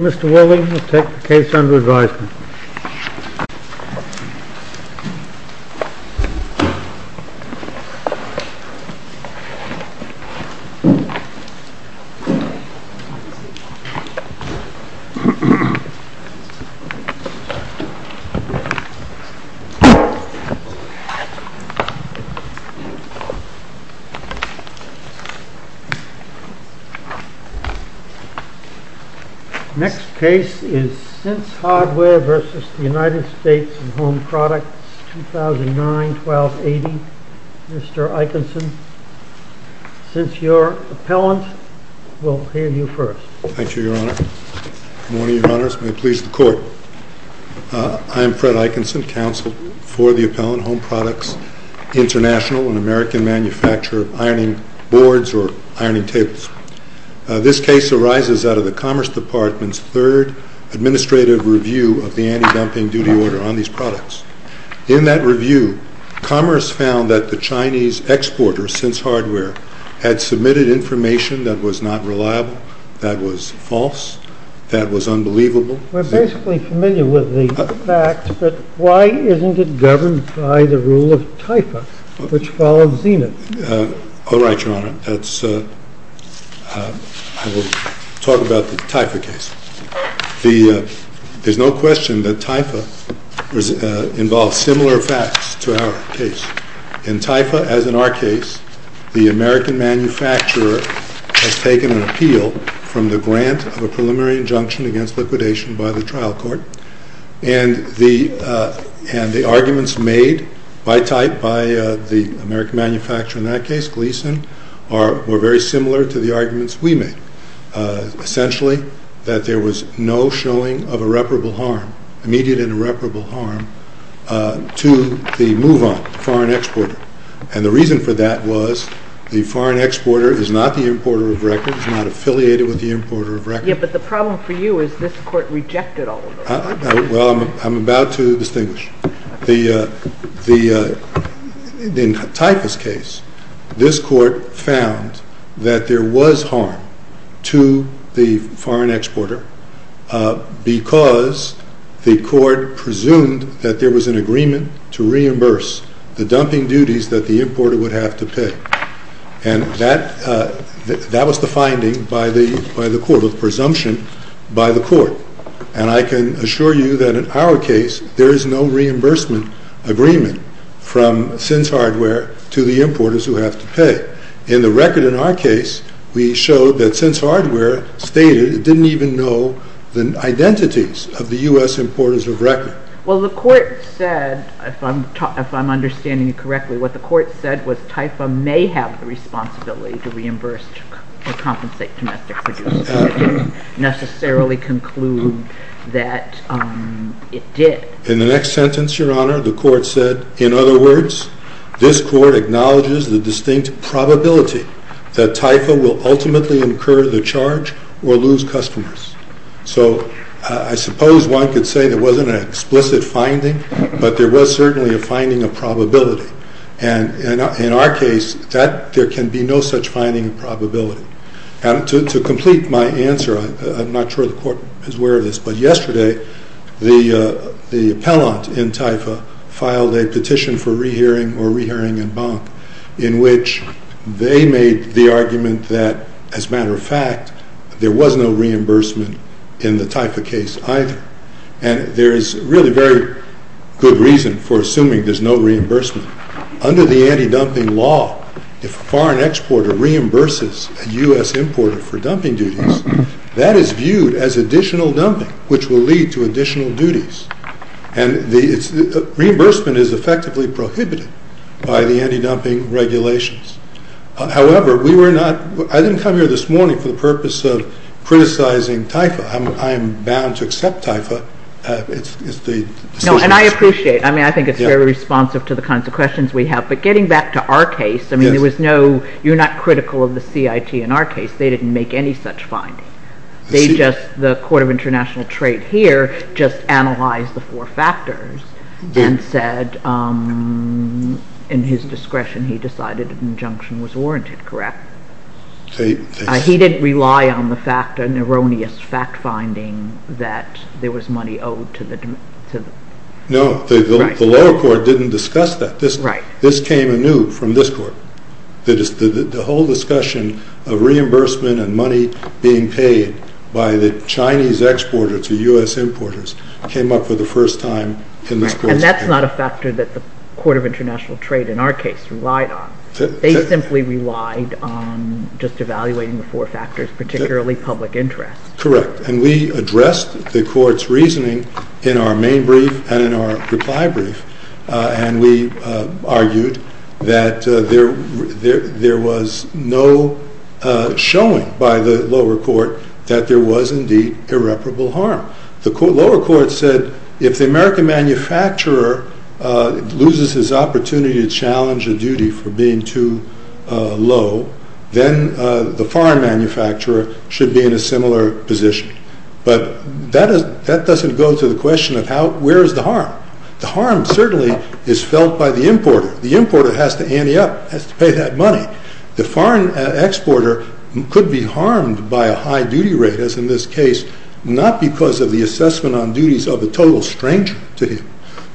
Mr. Woolley will take the case under advisement. Mr. Woolley will take the case under advisement. Hardware v. United States Home Products 2009-12-80 Mr. Eikenson, since your appellant will hand you first. Thank you, Your Honor. Good morning, Your Honors. May it please the Court, I am Fred Eikenson, Counsel for the Appellant Home Products International and American Manufacturer of Ironing Boards or Ironing Tables. This case arises out of the Commerce Department's third administrative review of the anti-dumping duty order on these products. In that review, Commerce found that the Chinese exporter, since Hardware, had submitted information that was not reliable, that was false, that was unbelievable. We're basically familiar with the fact, but why isn't it governed by the rule of typo, which follows Zenith? All right, Your Honor, I will talk about the typho case. There's no question that typho involves similar facts to our case. In typho, as in our case, the American manufacturer has taken an appeal from the grant of a preliminary injunction against liquidation by the trial court, and the arguments made by type by the American manufacturer in that case, Gleason, were very similar to the arguments we made. Essentially, that there was no showing of irreparable harm, immediate and irreparable harm, to the move-on, the foreign exporter. And the reason for that was the foreign exporter is not the importer of records, is not affiliated with the importer of records. Yeah, but the problem for you is this Court rejected all of those. Well, I'm about to distinguish. In the typhus case, this Court found that there was harm to the foreign exporter because the Court presumed that there was an agreement to reimburse the dumping duties that the importer would have to pay. And that was the finding by the Court, or the presumption by the Court. And I can assure you that in our case, there is no reimbursement agreement from SINCE Hardware to the importers who have to pay. In the record in our case, we showed that SINCE Hardware stated it didn't even know the identities of the U.S. importers of records. Well, the Court said, if I'm understanding you correctly, what the Court said was typhus may have the responsibility to reimburse or compensate domestic abuse, but it didn't necessarily conclude that it did. In the next sentence, Your Honor, the Court said, in other words, this Court acknowledges the distinct probability that typhus will ultimately incur the charge or lose customers. So I suppose one could say there wasn't an explicit finding, but there was certainly a finding of probability. And in our case, there can be no such finding of probability. And to complete my answer, I'm not sure the Court is aware of this, but yesterday, the appellant in typhus filed a petition for rehearing or rehearing-en banc, in which they made the argument that, as a matter of fact, there was no reimbursement in the typhus case either. And there is really very good reason for assuming there's no reimbursement. Under the anti-dumping law, if a foreign exporter reimburses a U.S. importer for dumping duties, that is viewed as additional dumping, which will lead to additional duties. And the reimbursement is effectively prohibited by the anti-dumping regulations. However, we were not – I didn't come here this morning for the purpose of criticizing typhus. I am bound to accept typhus. It's the – No, and I appreciate. I mean, I think it's very responsive to the kinds of questions we have. But getting back to our case, I mean, there was no – you're not critical of the CIT in our case. They didn't make any such finding. They just – the Court of International Trade here just analyzed the four factors and said, in his discretion, he decided an injunction was warranted, correct? He didn't rely on the fact – an erroneous fact-finding that there was money owed to the – No, the lower court didn't discuss that. This – Right. This came anew from this court. That is, the whole discussion of reimbursement and money being paid by the Chinese exporter to U.S. importers came up for the first time in this court's – And that's not a factor that the Court of International Trade, in our case, relied on. They simply relied on just evaluating the four factors, particularly public interest. Correct. And we addressed the court's reasoning in our main brief and in our reply brief, and we argued that there was no showing by the lower court that there was indeed irreparable harm. The lower court said, if the American manufacturer loses his opportunity to challenge a duty for being too low, then the foreign manufacturer should be in a similar position. But that doesn't go to the question of how – where is the harm? The harm certainly is felt by the importer. The importer has to ante up, has to pay that money. The foreign exporter could be harmed by a high duty rate, as in this case, not because of the assessment on duties of a total stranger to him,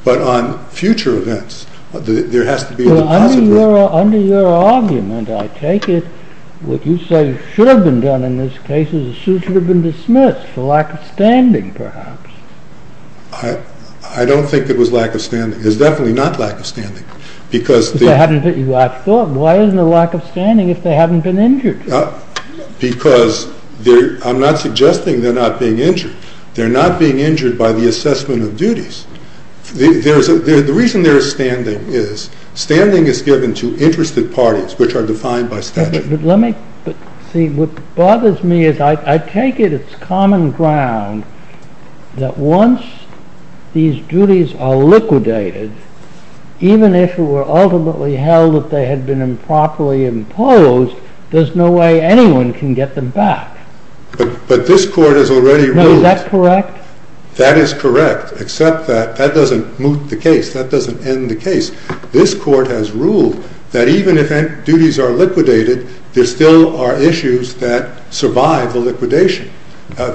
but on future events. There has to be a deposit rate. Well, under your argument, I take it, what you say should have been done in this case is the suit should have been dismissed for lack of standing, perhaps. I don't think it was lack of standing. It's definitely not lack of standing. Because – I thought, why isn't there lack of standing if they haven't been injured? Because I'm not suggesting they're not being injured. They're not being injured by the assessment of duties. The reason there is standing is, standing is given to interested parties, which are defined by statute. But let me – see, what bothers me is I take it it's common ground that once these duties are liquidated, even if it were ultimately held that they had been improperly imposed, there's no way anyone can get them back. But this Court has already ruled – No, is that correct? That is correct, except that that doesn't moot the case. That doesn't end the case. This Court has ruled that even if duties are liquidated, there still are issues that survive the liquidation.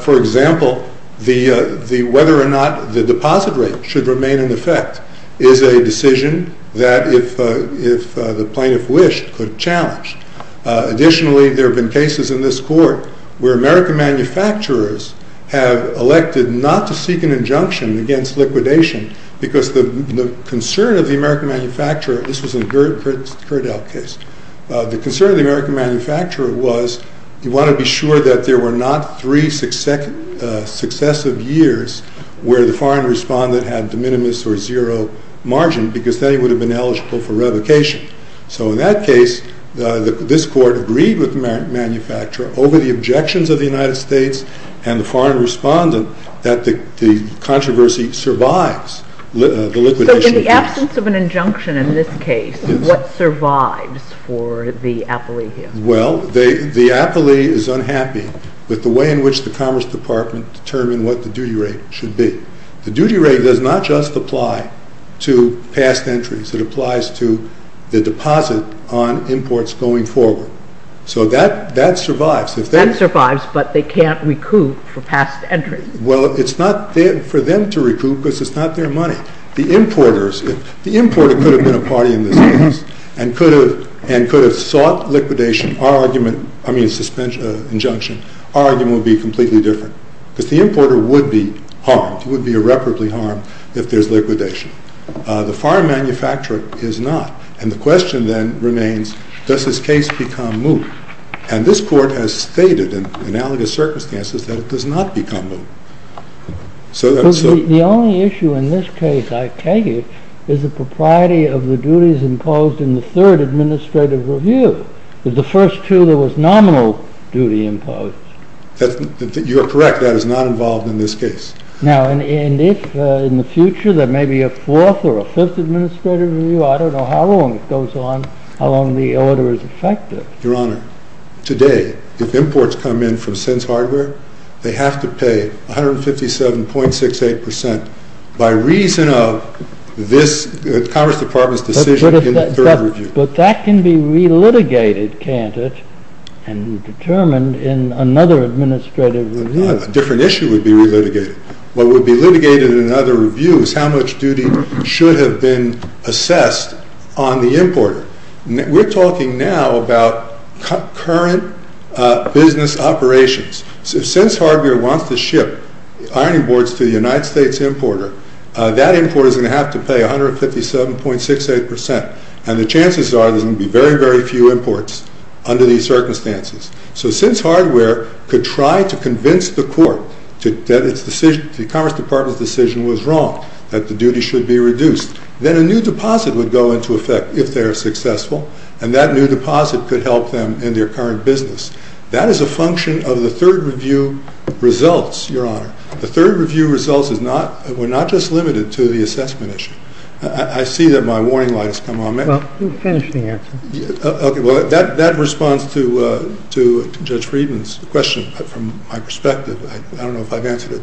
For example, the whether or not the deposit rate should remain in effect is a decision that if the plaintiff wished could challenge. Additionally, there have been cases in this Court where American manufacturers have elected not to seek an injunction against liquidation because the concern of the American manufacturer – this was in the Kurdell case – the concern of the American manufacturer was you want to be sure that there were not three successive years where the foreign respondent had de minimis or zero margin because then he would have been eligible for revocation. So in that case, this Court agreed with the American manufacturer over the objections of the United States and the foreign respondent that the controversy survives the liquidation. So in the absence of an injunction in this case, what survives for the appellee here? Well, the appellee is unhappy with the way in which the Commerce Department determined what the duty rate should be. The duty rate does not just apply to past entries. It applies to the deposit on imports going forward. So that survives. That survives, but they can't recoup for past entries. Well, it's not for them to recoup because it's not their money. The importer could have been a party in this case and could have sought liquidation. Our argument – I mean injunction – our argument would be completely different because the importer would be harmed. He would be irreparably harmed if there's liquidation. The foreign manufacturer is not. And the question then remains, does this case become moot? And this court has stated in analogous circumstances that it does not become moot. So the only issue in this case, I take it, is the propriety of the duties imposed in the third administrative review. The first two, there was nominal duty imposed. You are correct, that is not involved in this case. Now and if in the future there may be a fourth or a fifth administrative review, I don't know how long it goes on, how long the order is effective. Your Honor, today, if imports come in from Sins Hardware, they have to pay 157.68% by reason of this Congress Department's decision in the third review. But that can be re-litigated, can't it, and determined in another administrative review? A different issue would be re-litigated. What would be litigated in another review is how much duty should have been assessed on the importer. We're talking now about current business operations. Sins Hardware wants to ship ironing boards to the United States importer. That importer is going to have to pay 157.68%, and the chances are there's going to be very, very few imports under these circumstances. So Sins Hardware could try to convince the court that the Congress Department's decision was wrong, that the duty should be reduced. Then a new deposit would go into effect if they are successful, and that new deposit could help them in their current business. That is a function of the third review results, Your Honor. The third review results were not just limited to the assessment issue. I see that my warning light has come on. Well, finish the answer. Okay, well, that responds to Judge Friedman's question from my perspective. I don't know if I've answered it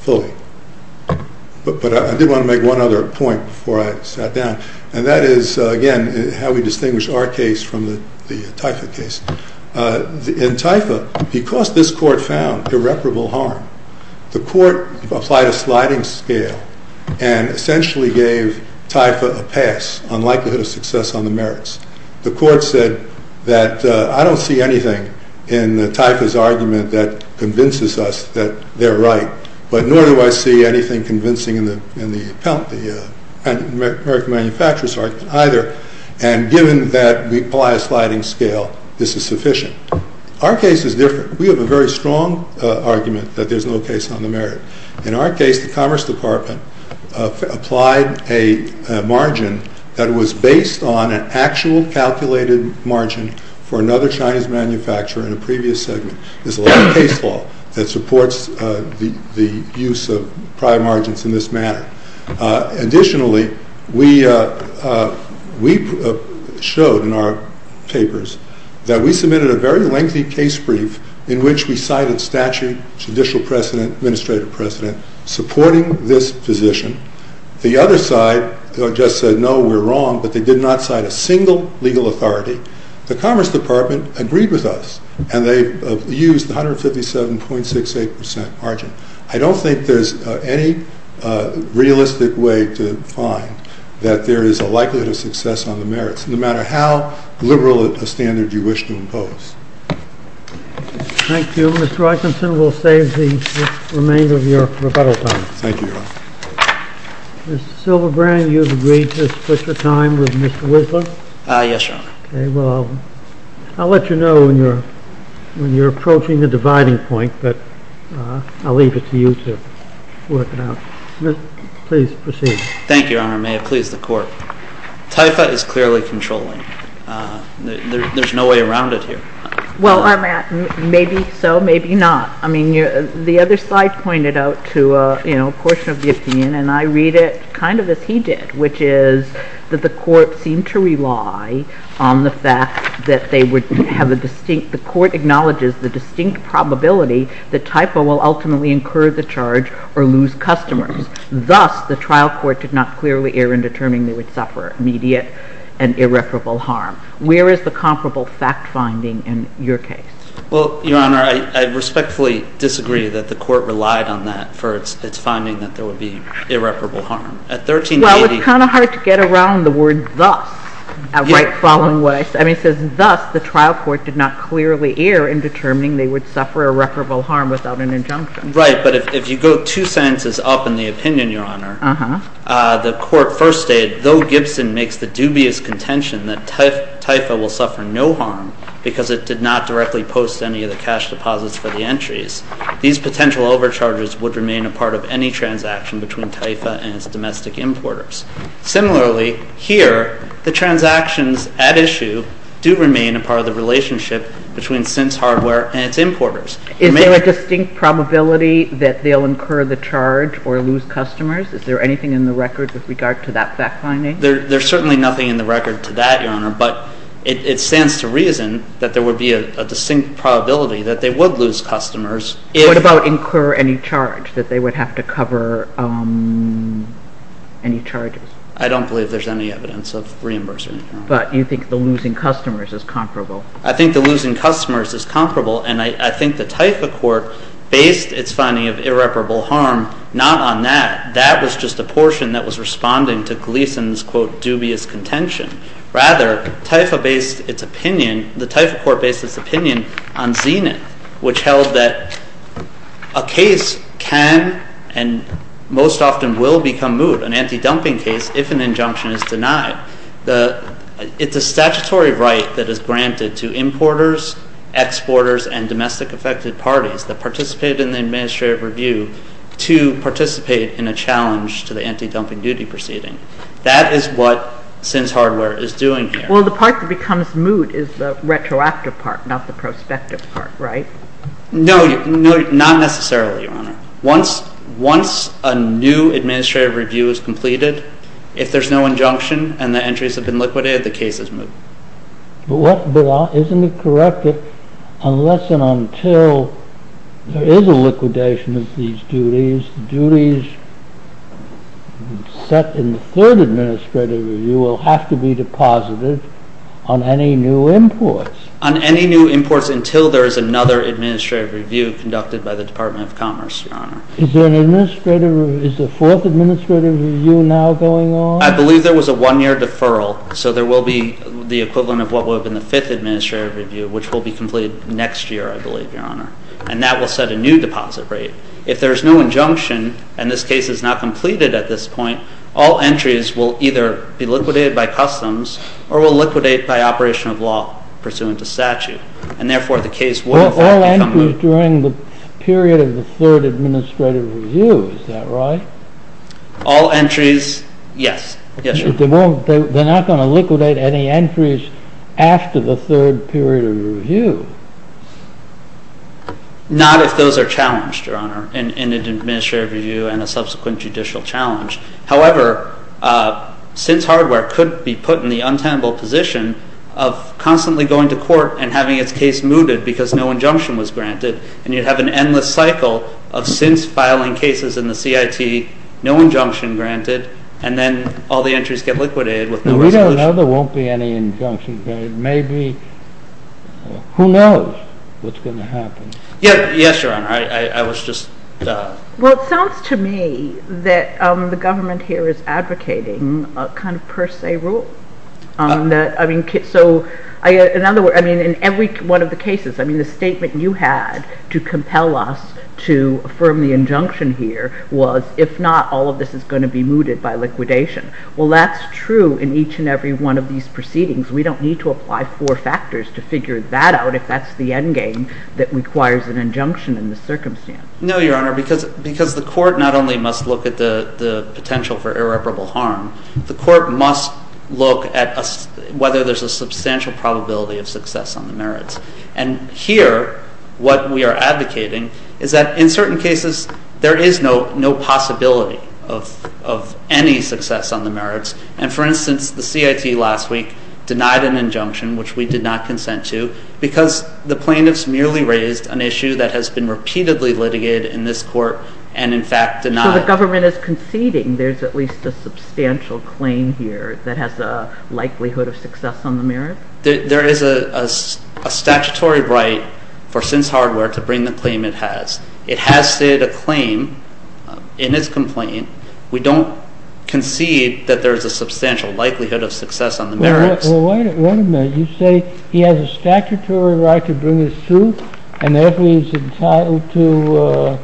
fully. But I did want to make one other point before I sat down, and that is, again, how we distinguish our case from the Typha case. In Typha, because this court found irreparable harm, the court applied a sliding scale and essentially gave Typha a pass on likelihood of success on the merits. The court said that I don't see anything in Typha's argument that convinces us that they're right, but nor do I see anything convincing in the American manufacturer's argument either. And given that we apply a sliding scale, this is sufficient. Our case is different. We have a very strong argument that there's no case on the merit. In our case, the Commerce Department applied a margin that was based on an actual calculated margin for another Chinese manufacturer in a previous segment. There's a lot of case law that supports the use of prior margins in this manner. Additionally, we showed in our papers that we submitted a very lengthy case brief in which we cited statute, judicial precedent, administrative precedent, supporting this position. The other side just said, no, we're wrong, but they did not cite a single legal authority. The Commerce Department agreed with us, and they used 157.68% margin. I don't think there's any realistic way to find that there is a likelihood of success on the merits, no matter how liberal a standard you wish to impose. Thank you. Mr. Eikenson, we'll save the remainder of your rebuttal time. Thank you, Your Honor. Mr. Silverbrand, you've agreed to split your time with Mr. Winslow? Yes, Your Honor. OK, well, I'll let you know when you're approaching the dividing point, but I'll leave it to you to work it out. Please proceed. Thank you, Your Honor. May it please the Court. TIFA is clearly controlling. There's no way around it here. Well, maybe so, maybe not. I mean, the other side pointed out to a portion of the opinion, and I read it kind of as he did, which is that the Court seemed to rely on the fact that they would have a distinct – the Court acknowledges the distinct probability that TIFA will ultimately incur the charge or lose customers. Thus, the trial court did not clearly err in determining they would suffer immediate and irreparable harm. Where is the comparable fact-finding in your case? Well, Your Honor, I respectfully disagree that the Court relied on that for its finding that there would be irreparable harm. At 1380… Well, it's kind of hard to get around the word thus right following what I said. I mean, it says, thus, the trial court did not clearly err in determining they would suffer irreparable harm without an injunction. Right, but if you go two sentences up in the opinion, Your Honor, the Court first stated, though Gibson makes the dubious contention that TIFA will suffer no harm because it did not directly post any of the cash deposits for the entries, these potential overcharges would remain a part of any transaction between TIFA and its domestic importers. Similarly, here, the transactions at issue do remain a part of the relationship between SIN's hardware and its importers. Is there a distinct probability that they'll incur the charge or lose customers? Is there anything in the record with regard to that fact-finding? There's certainly nothing in the record to that, Your Honor, but it stands to reason that there would be a distinct probability that they would lose customers if… …that they would have to cover any charges. I don't believe there's any evidence of reimbursement, Your Honor. But you think the losing customers is comparable? I think the losing customers is comparable, and I think the TIFA court based its finding of irreparable harm not on that. That was just a portion that was responding to Gleason's, quote, dubious contention. Rather, TIFA based its opinion, the TIFA court based its opinion on Zenith, which held that a case can and most often will become moot, an anti-dumping case, if an injunction is denied. It's a statutory right that is granted to importers, exporters, and domestic affected parties that participated in the administrative review to participate in a challenge to the anti-dumping duty proceeding. That is what SIN's hardware is doing here. Well, the part that becomes moot is the retroactive part, not the prospective part, right? No, not necessarily, Your Honor. Once a new administrative review is completed, if there's no injunction and the entries have been liquidated, the case is moot. But isn't it correct that unless and until there is a liquidation of these duties, duties set in the third administrative review will have to be deposited on any new imports? On any new imports until there is another administrative review conducted by the Department of Commerce, Your Honor. Is there an administrative review, is the fourth administrative review now going on? I believe there was a one-year deferral, so there will be the equivalent of what would have been the fifth administrative review, which will be completed next year, I believe, Your Honor. And that will set a new deposit rate. If there is no injunction and this case is not completed at this point, all entries will either be liquidated by customs or will liquidate by operation of law pursuant to statute. And therefore, the case will become moot. All entries during the period of the third administrative review, is that right? All entries, yes. Yes, Your Honor. They're not going to liquidate any entries after the third period of review? Not if those are challenged, Your Honor, in an administrative review and a subsequent judicial challenge. However, since hardware could be put in the untenable position of constantly going to court and having its case mooted because no injunction was granted, and you'd have an endless cycle of since filing cases in the CIT, no injunction granted, and then all the entries get liquidated with no injunction. No, we don't know there won't be any injunction granted. Maybe, who knows what's going to happen? Yes, Your Honor, I was just... Well, it sounds to me that the government here is advocating a kind of per se rule. In every one of the cases, the statement you had to compel us to affirm the injunction here was, if not, all of this is going to be mooted by liquidation. Well, that's true in each and every one of these proceedings. We don't need to apply four factors to figure that out if that's the end game that requires an injunction in this circumstance. No, Your Honor, because the court not only must look at the potential for irreparable harm, the court must look at whether there's a substantial probability of success on the merits. And here, what we are advocating is that in certain cases, there is no possibility of any success on the merits. And for instance, the CIT last week denied an injunction, which we did not consent to, because the plaintiffs merely raised an issue that has been repeatedly litigated in this court and, in fact, denied. So the government is conceding there's at least a substantial claim here that has a likelihood of success on the merits? There is a statutory right for Sins Hardware to bring the claim it has. It has stated a claim in its complaint. We don't concede that there's a substantial likelihood of success on the merits. Well, wait a minute. You say he has a statutory right to bring his suit, and therefore he's entitled to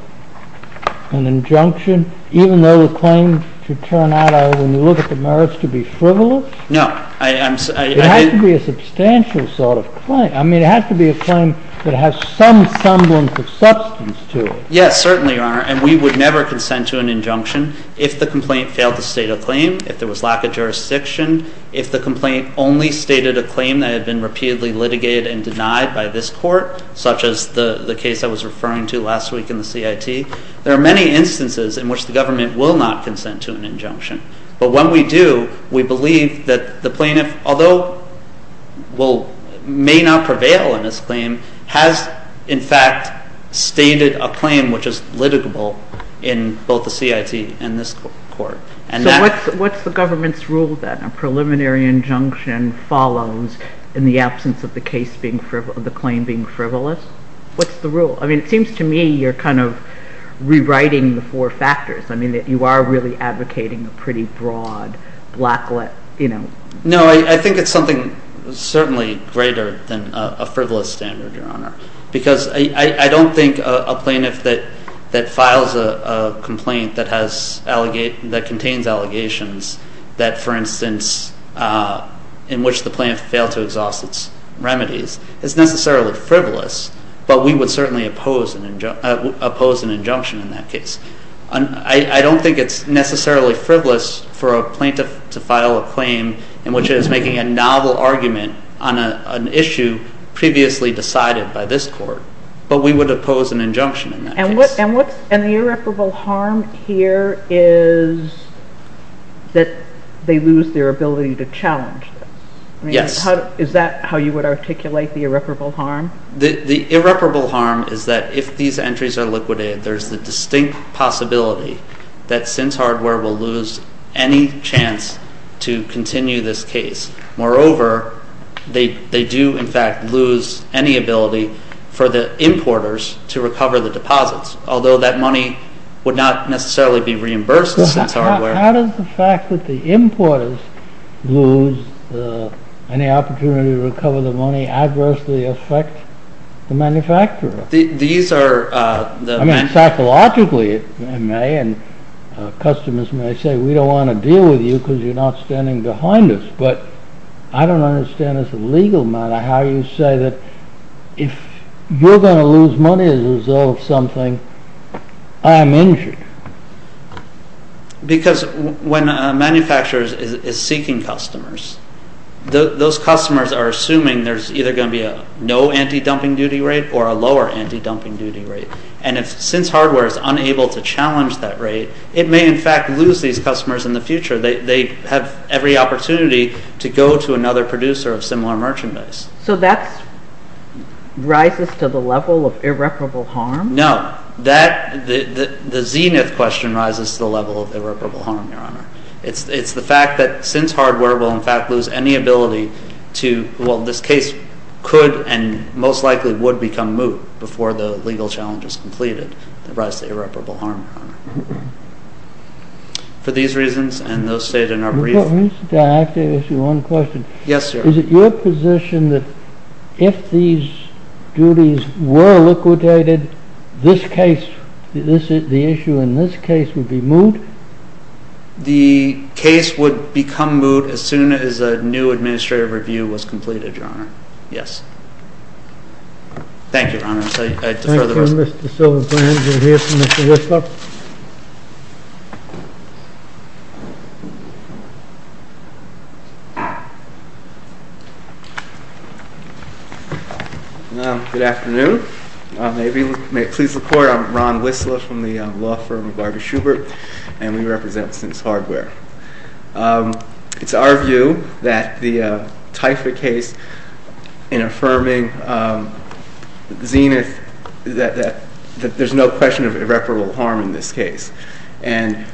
an injunction, even though the claim should turn out, when you look at the merits, to be frivolous? No. It has to be a substantial sort of claim. I mean, it has to be a claim that has some semblance of substance to it. Yes, certainly, Your Honor. And we would never consent to an injunction if the complaint failed to state a claim, if there was lack of jurisdiction, if the complaint only stated a claim that had been repeatedly litigated and denied by this court, such as the case I was referring to last week in the CIT. There are many instances in which the government will not consent to an injunction. But when we do, we believe that the plaintiff, although may not prevail in this claim, has, in fact, stated a claim which is litigable in both the CIT and this court. So what's the government's rule, then? A preliminary injunction follows in the absence of the claim being frivolous? What's the rule? I mean, it seems to me you're kind of rewriting the four factors. I mean, you are really advocating a pretty broad, black-lit, you know. No, I think it's something certainly greater than a frivolous standard, Your Honor. Because I don't think a plaintiff that files a complaint that contains allegations that, for instance, in which the plaintiff failed to exhaust its remedies is necessarily frivolous. But we would certainly oppose an injunction in that case. I don't think it's necessarily frivolous for a plaintiff to file a claim in which it is making a novel argument on an issue previously decided by this court. But we would oppose an injunction in that case. And the irreparable harm here is that they lose their ability to challenge this? Yes. Is that how you would articulate the irreparable harm? The irreparable harm is that if these entries are liquidated, there's the distinct possibility that Sins Hardware will lose any chance to continue this case. Moreover, they do, in fact, lose any ability for the importers to recover the deposits, although that money would not necessarily be reimbursed to Sins Hardware. How does the fact that the importers lose any opportunity to recover the money adversely affect the manufacturer? These are the... I mean, psychologically it may, and customers may say, we don't want to deal with you because you're not standing behind us. But I don't understand as a legal matter how you say that if you're going to lose money as a result of something, I'm injured. Because when a manufacturer is seeking customers, those customers are assuming there's either going to be a anti-dumping duty rate or a lower anti-dumping duty rate. And if Sins Hardware is unable to challenge that rate, it may, in fact, lose these customers in the future. They have every opportunity to go to another producer of similar merchandise. So that rises to the level of irreparable harm? No. The zenith question rises to the level of irreparable harm, Your Honor. It's the fact that Sins Hardware will, in fact, lose any ability to... most likely would become moot before the legal challenge is completed. It rises to irreparable harm, Your Honor. For these reasons, and those stated in our brief... Wait a second. I have to ask you one question. Yes, Your Honor. Is it your position that if these duties were liquidated, this case, the issue in this case would be moot? The case would become moot as soon as a new administrative review was completed, Your Honor. Yes. Thank you, Your Honor. Thank you, Mr. Silverbrand. Do we hear from Mr. Whistler? Good afternoon. May we please report? I'm Ron Whistler from the law firm of Artie Schubert, and we represent Sins Hardware. It's our view that the Taifa case in affirming zenith... that there's no question of irreparable harm in this case. And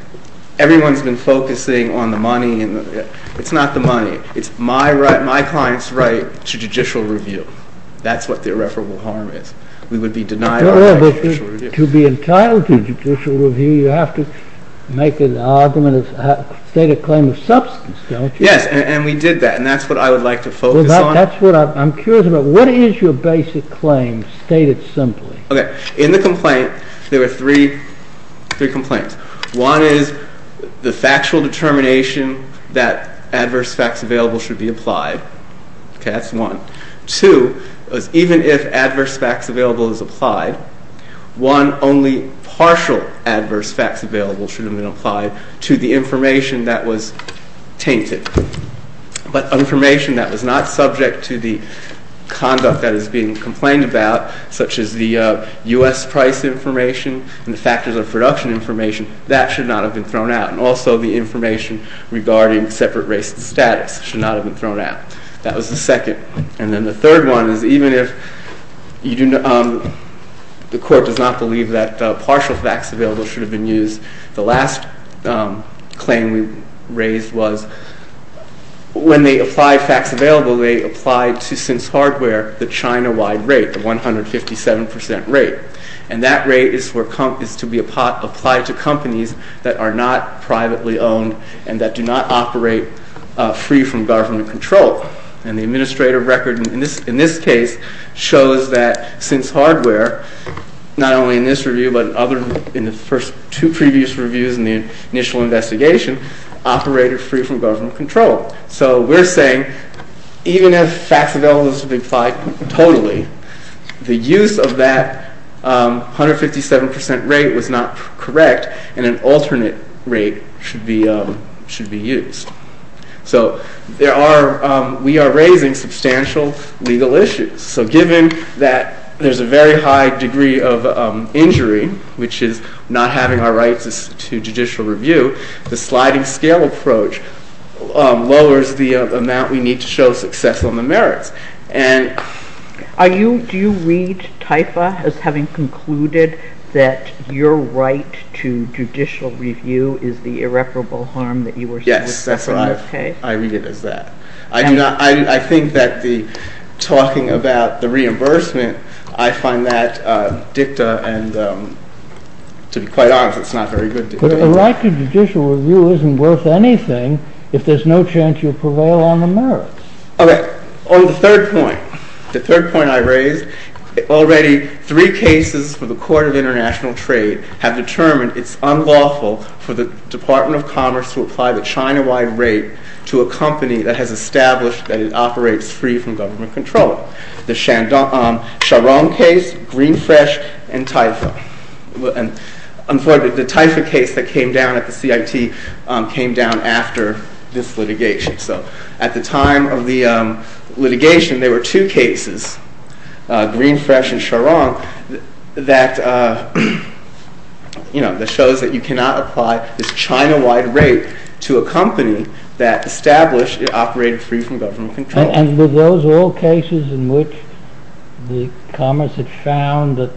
everyone's been focusing on the money. It's not the money. It's my client's right to judicial review. That's what the irreparable harm is. We would be denied our right to judicial review. You have to make an argument, a stated claim of substance, don't you? Yes, and we did that. And that's what I would like to focus on. That's what I'm curious about. What is your basic claim, stated simply? Okay. In the complaint, there were three complaints. One is the factual determination that adverse facts available should be applied. Okay, that's one. Two is even if adverse facts available is applied, one only partial adverse facts available should have been applied to the information that was tainted. But information that was not subject to the conduct that is being complained about, such as the US price information and the factors of production information, that should not have been thrown out. And also the information regarding separate race and status should not have been thrown out. That was the second. And then the third one is even if the court does not believe that partial facts available should have been used, the last claim we raised was when they apply facts available, they apply to since hardware, the China-wide rate, the 157% rate. And that rate is to be applied to companies that are not privately owned and that do not operate free from government control. And the administrative record in this case shows that since hardware, not only in this review, but other in the first two previous reviews in the initial investigation, operated free from government control. So we're saying even if facts available should be applied totally, the use of that 157% rate was not correct and an alternate rate should be used. So there are, we are raising substantial legal issues. So given that there's a very high degree of injury, which is not having our rights to judicial review, the sliding scale approach lowers the amount we need to show success on the merits. And are you, do you read TIFA as having concluded that your right to judicial review is the irreparable harm that you were saying? That's what I read it as that. I do not, I think that the talking about the reimbursement, I find that dicta and to be quite honest, it's not very good. But a right to judicial review isn't worth anything if there's no chance you prevail on the merits. Okay, on the third point, the third point I raised, already three cases for the Court of International Trade have determined it's unlawful for the Department of Commerce to apply the China-wide rate to a company that has established that it operates free from government control. The Sharon case, Greenfresh and TIFA. And I'm sorry, the TIFA case that came down at the CIT came down after this litigation. So at the time of the litigation, there were two cases, Greenfresh and Sharon that, you know, that shows that you cannot apply this China-wide rate to a company that established it operated free from government control. And were those all cases in which the Commerce had found that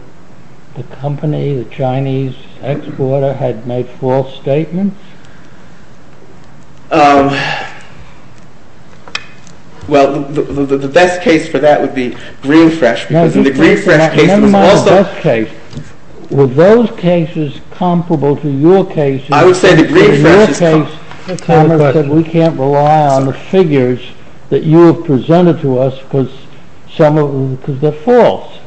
the company, the Chinese exporter, had made false statements? Well, the best case for that would be Greenfresh. And never mind the best case. Were those cases comparable to your cases? I would say the Greenfresh is comparable. We can't rely on the figures that you have presented to us because they're false.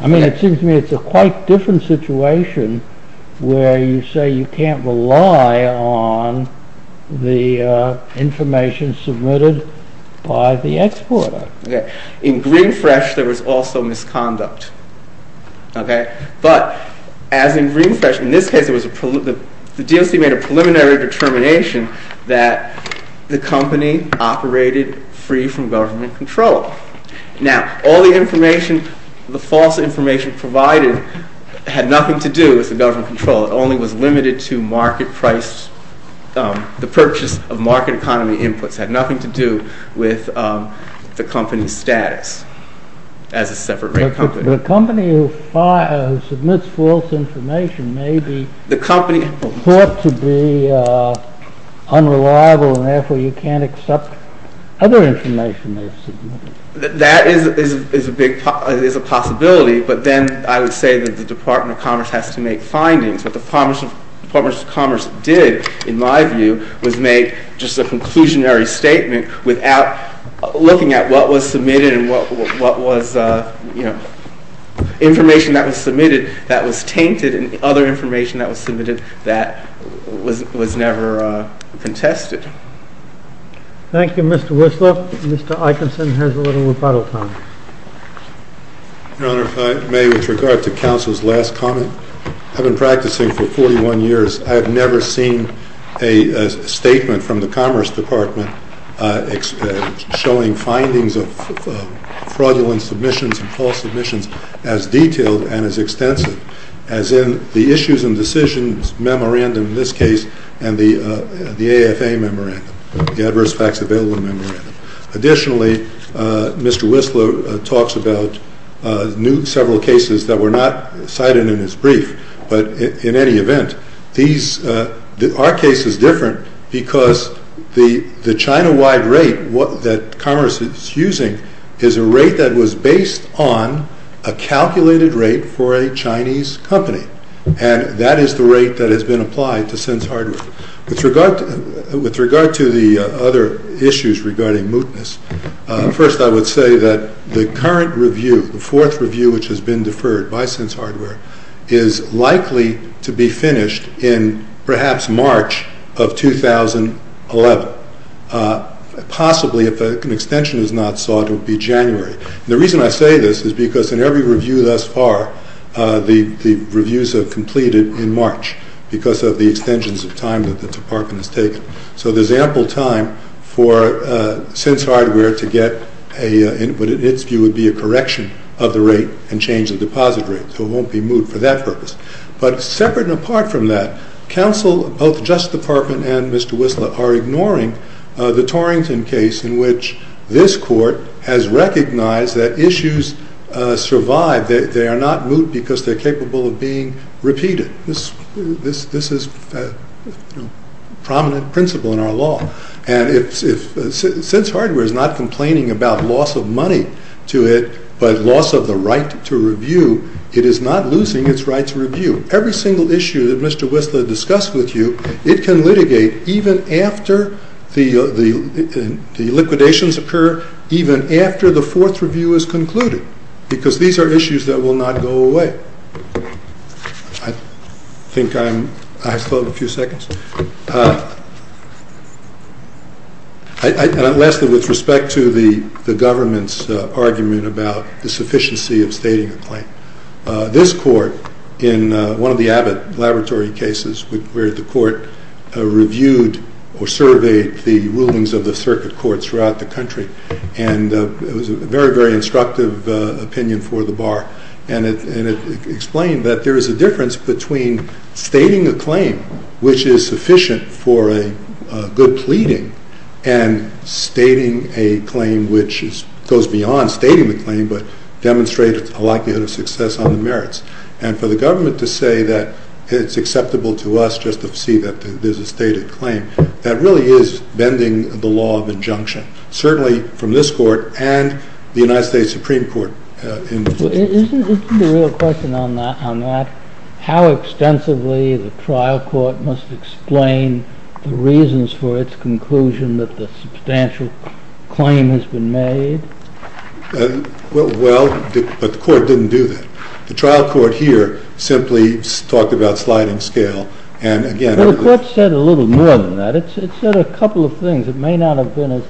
I mean, it seems to me it's a quite different situation where you say you can't rely on the information submitted by the exporter. In Greenfresh, there was also misconduct. But as in Greenfresh, in this case, it was the DLC made a preliminary determination that the company operated free from government control. Now, all the information, the false information provided had nothing to do with the government control. It only was limited to market price. The purchase of market economy inputs had nothing to do with the company's status as a separate rate company. The company who submits false information may be thought to be unreliable and therefore you can't accept other information they've submitted. That is a possibility. But then I would say that the Department of Commerce has to make findings. What the Department of Commerce did, in my view, was make just a conclusionary statement without looking at what was submitted and what was, you know, information that was submitted that was tainted and other information that was submitted that was never contested. Thank you, Mr. Whistler. Mr. Eikenson has a little rebuttal time. Your Honor, if I may, with regard to counsel's last comment, I've been practicing for 41 years. I have never seen a statement from the Commerce Department showing findings of fraudulent submissions and false submissions as detailed and as extensive as in the Issues and Decisions Memorandum in this case and the AFA Memorandum, the Adverse Facts Available Memorandum. Additionally, Mr. Whistler talks about several cases that were not cited in his brief, but in any event, our case is different because the China-wide rate that Commerce is using is a rate that was based on a calculated rate for a Chinese company and that is the rate that has been applied to Sense Hardware. With regard to the other issues regarding mootness, first I would say that the current review, the fourth review which has been deferred by Sense Hardware, is likely to be finished in perhaps March of 2011. Possibly, if an extension is not sought, it will be January. The reason I say this is because in every review thus far, the reviews have completed in March because of the extensions of time that the department has taken. So there's ample time for Sense Hardware to get what in its view would be a correction of the rate and change the deposit rate. It won't be moot for that purpose. But separate and apart from that, counsel of the Justice Department and Mr. Whistler are ignoring the Torrington case in which this court has recognized that issues survive. They are not moot because they're capable of being repeated. This is a prominent principle in our law. And if Sense Hardware is not complaining about loss of money to it, but loss of the right to review, it is not losing its right to review. Every single issue that Mr. Whistler discussed with you, it can litigate even after the liquidations occur, even after the fourth review is concluded. Because these are issues that will not go away. I think I'm... I have a few seconds. And lastly, with respect to the government's argument about the sufficiency of stating a claim. This court in one of the Abbott laboratory cases where the court reviewed or surveyed the rulings of the circuit courts throughout the country. And it was a very, very instructive opinion for the bar. And it explained that there is a difference between stating a claim which is sufficient for a good pleading and stating a claim which goes beyond stating the claim, but demonstrate a likelihood of success on the merits. And for the government to say that it's acceptable to us just to see that there's a stated claim, that really is bending the law of injunction, certainly from this court and the United States Supreme Court. Isn't the real question on that, how extensively the trial court must explain the reasons for its conclusion that the substantial claim has been made? Well, but the court didn't do that. The trial court here simply talked about sliding scale. And again... Well, the court said a little more than that. It said a couple of things. It may not have been as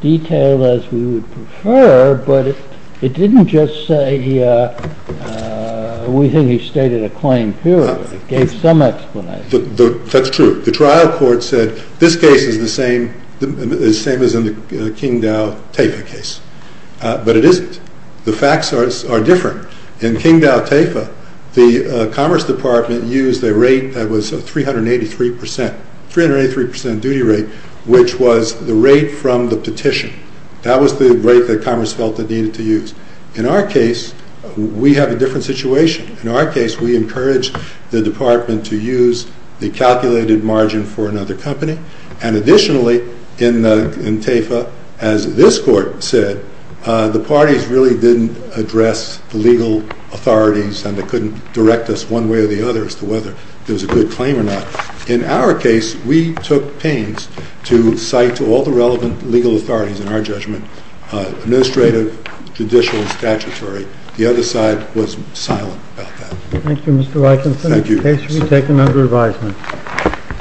detailed as we would prefer, but it didn't just say, we think he stated a claim purely. It gave some explanation. That's true. The trial court said, this case is the same as in the King Dow TAFA case, but it isn't. The facts are different. In King Dow TAFA, the Commerce Department used a rate that was 383% duty rate, which was the rate from the petition. That was the rate that Commerce felt it needed to use. In our case, we have a different situation. In our case, we encourage the department to use the calculated margin for another company. And additionally, in TAFA, as this court said, the parties really didn't address the legal authorities and they couldn't direct us one way or the other as to whether it was a good claim or not. In our case, we took pains to cite to all the relevant legal authorities in our judgment, administrative, judicial, and statutory. The other side was silent about that. Thank you, Mr. Rikenson. The case will be taken under advisement.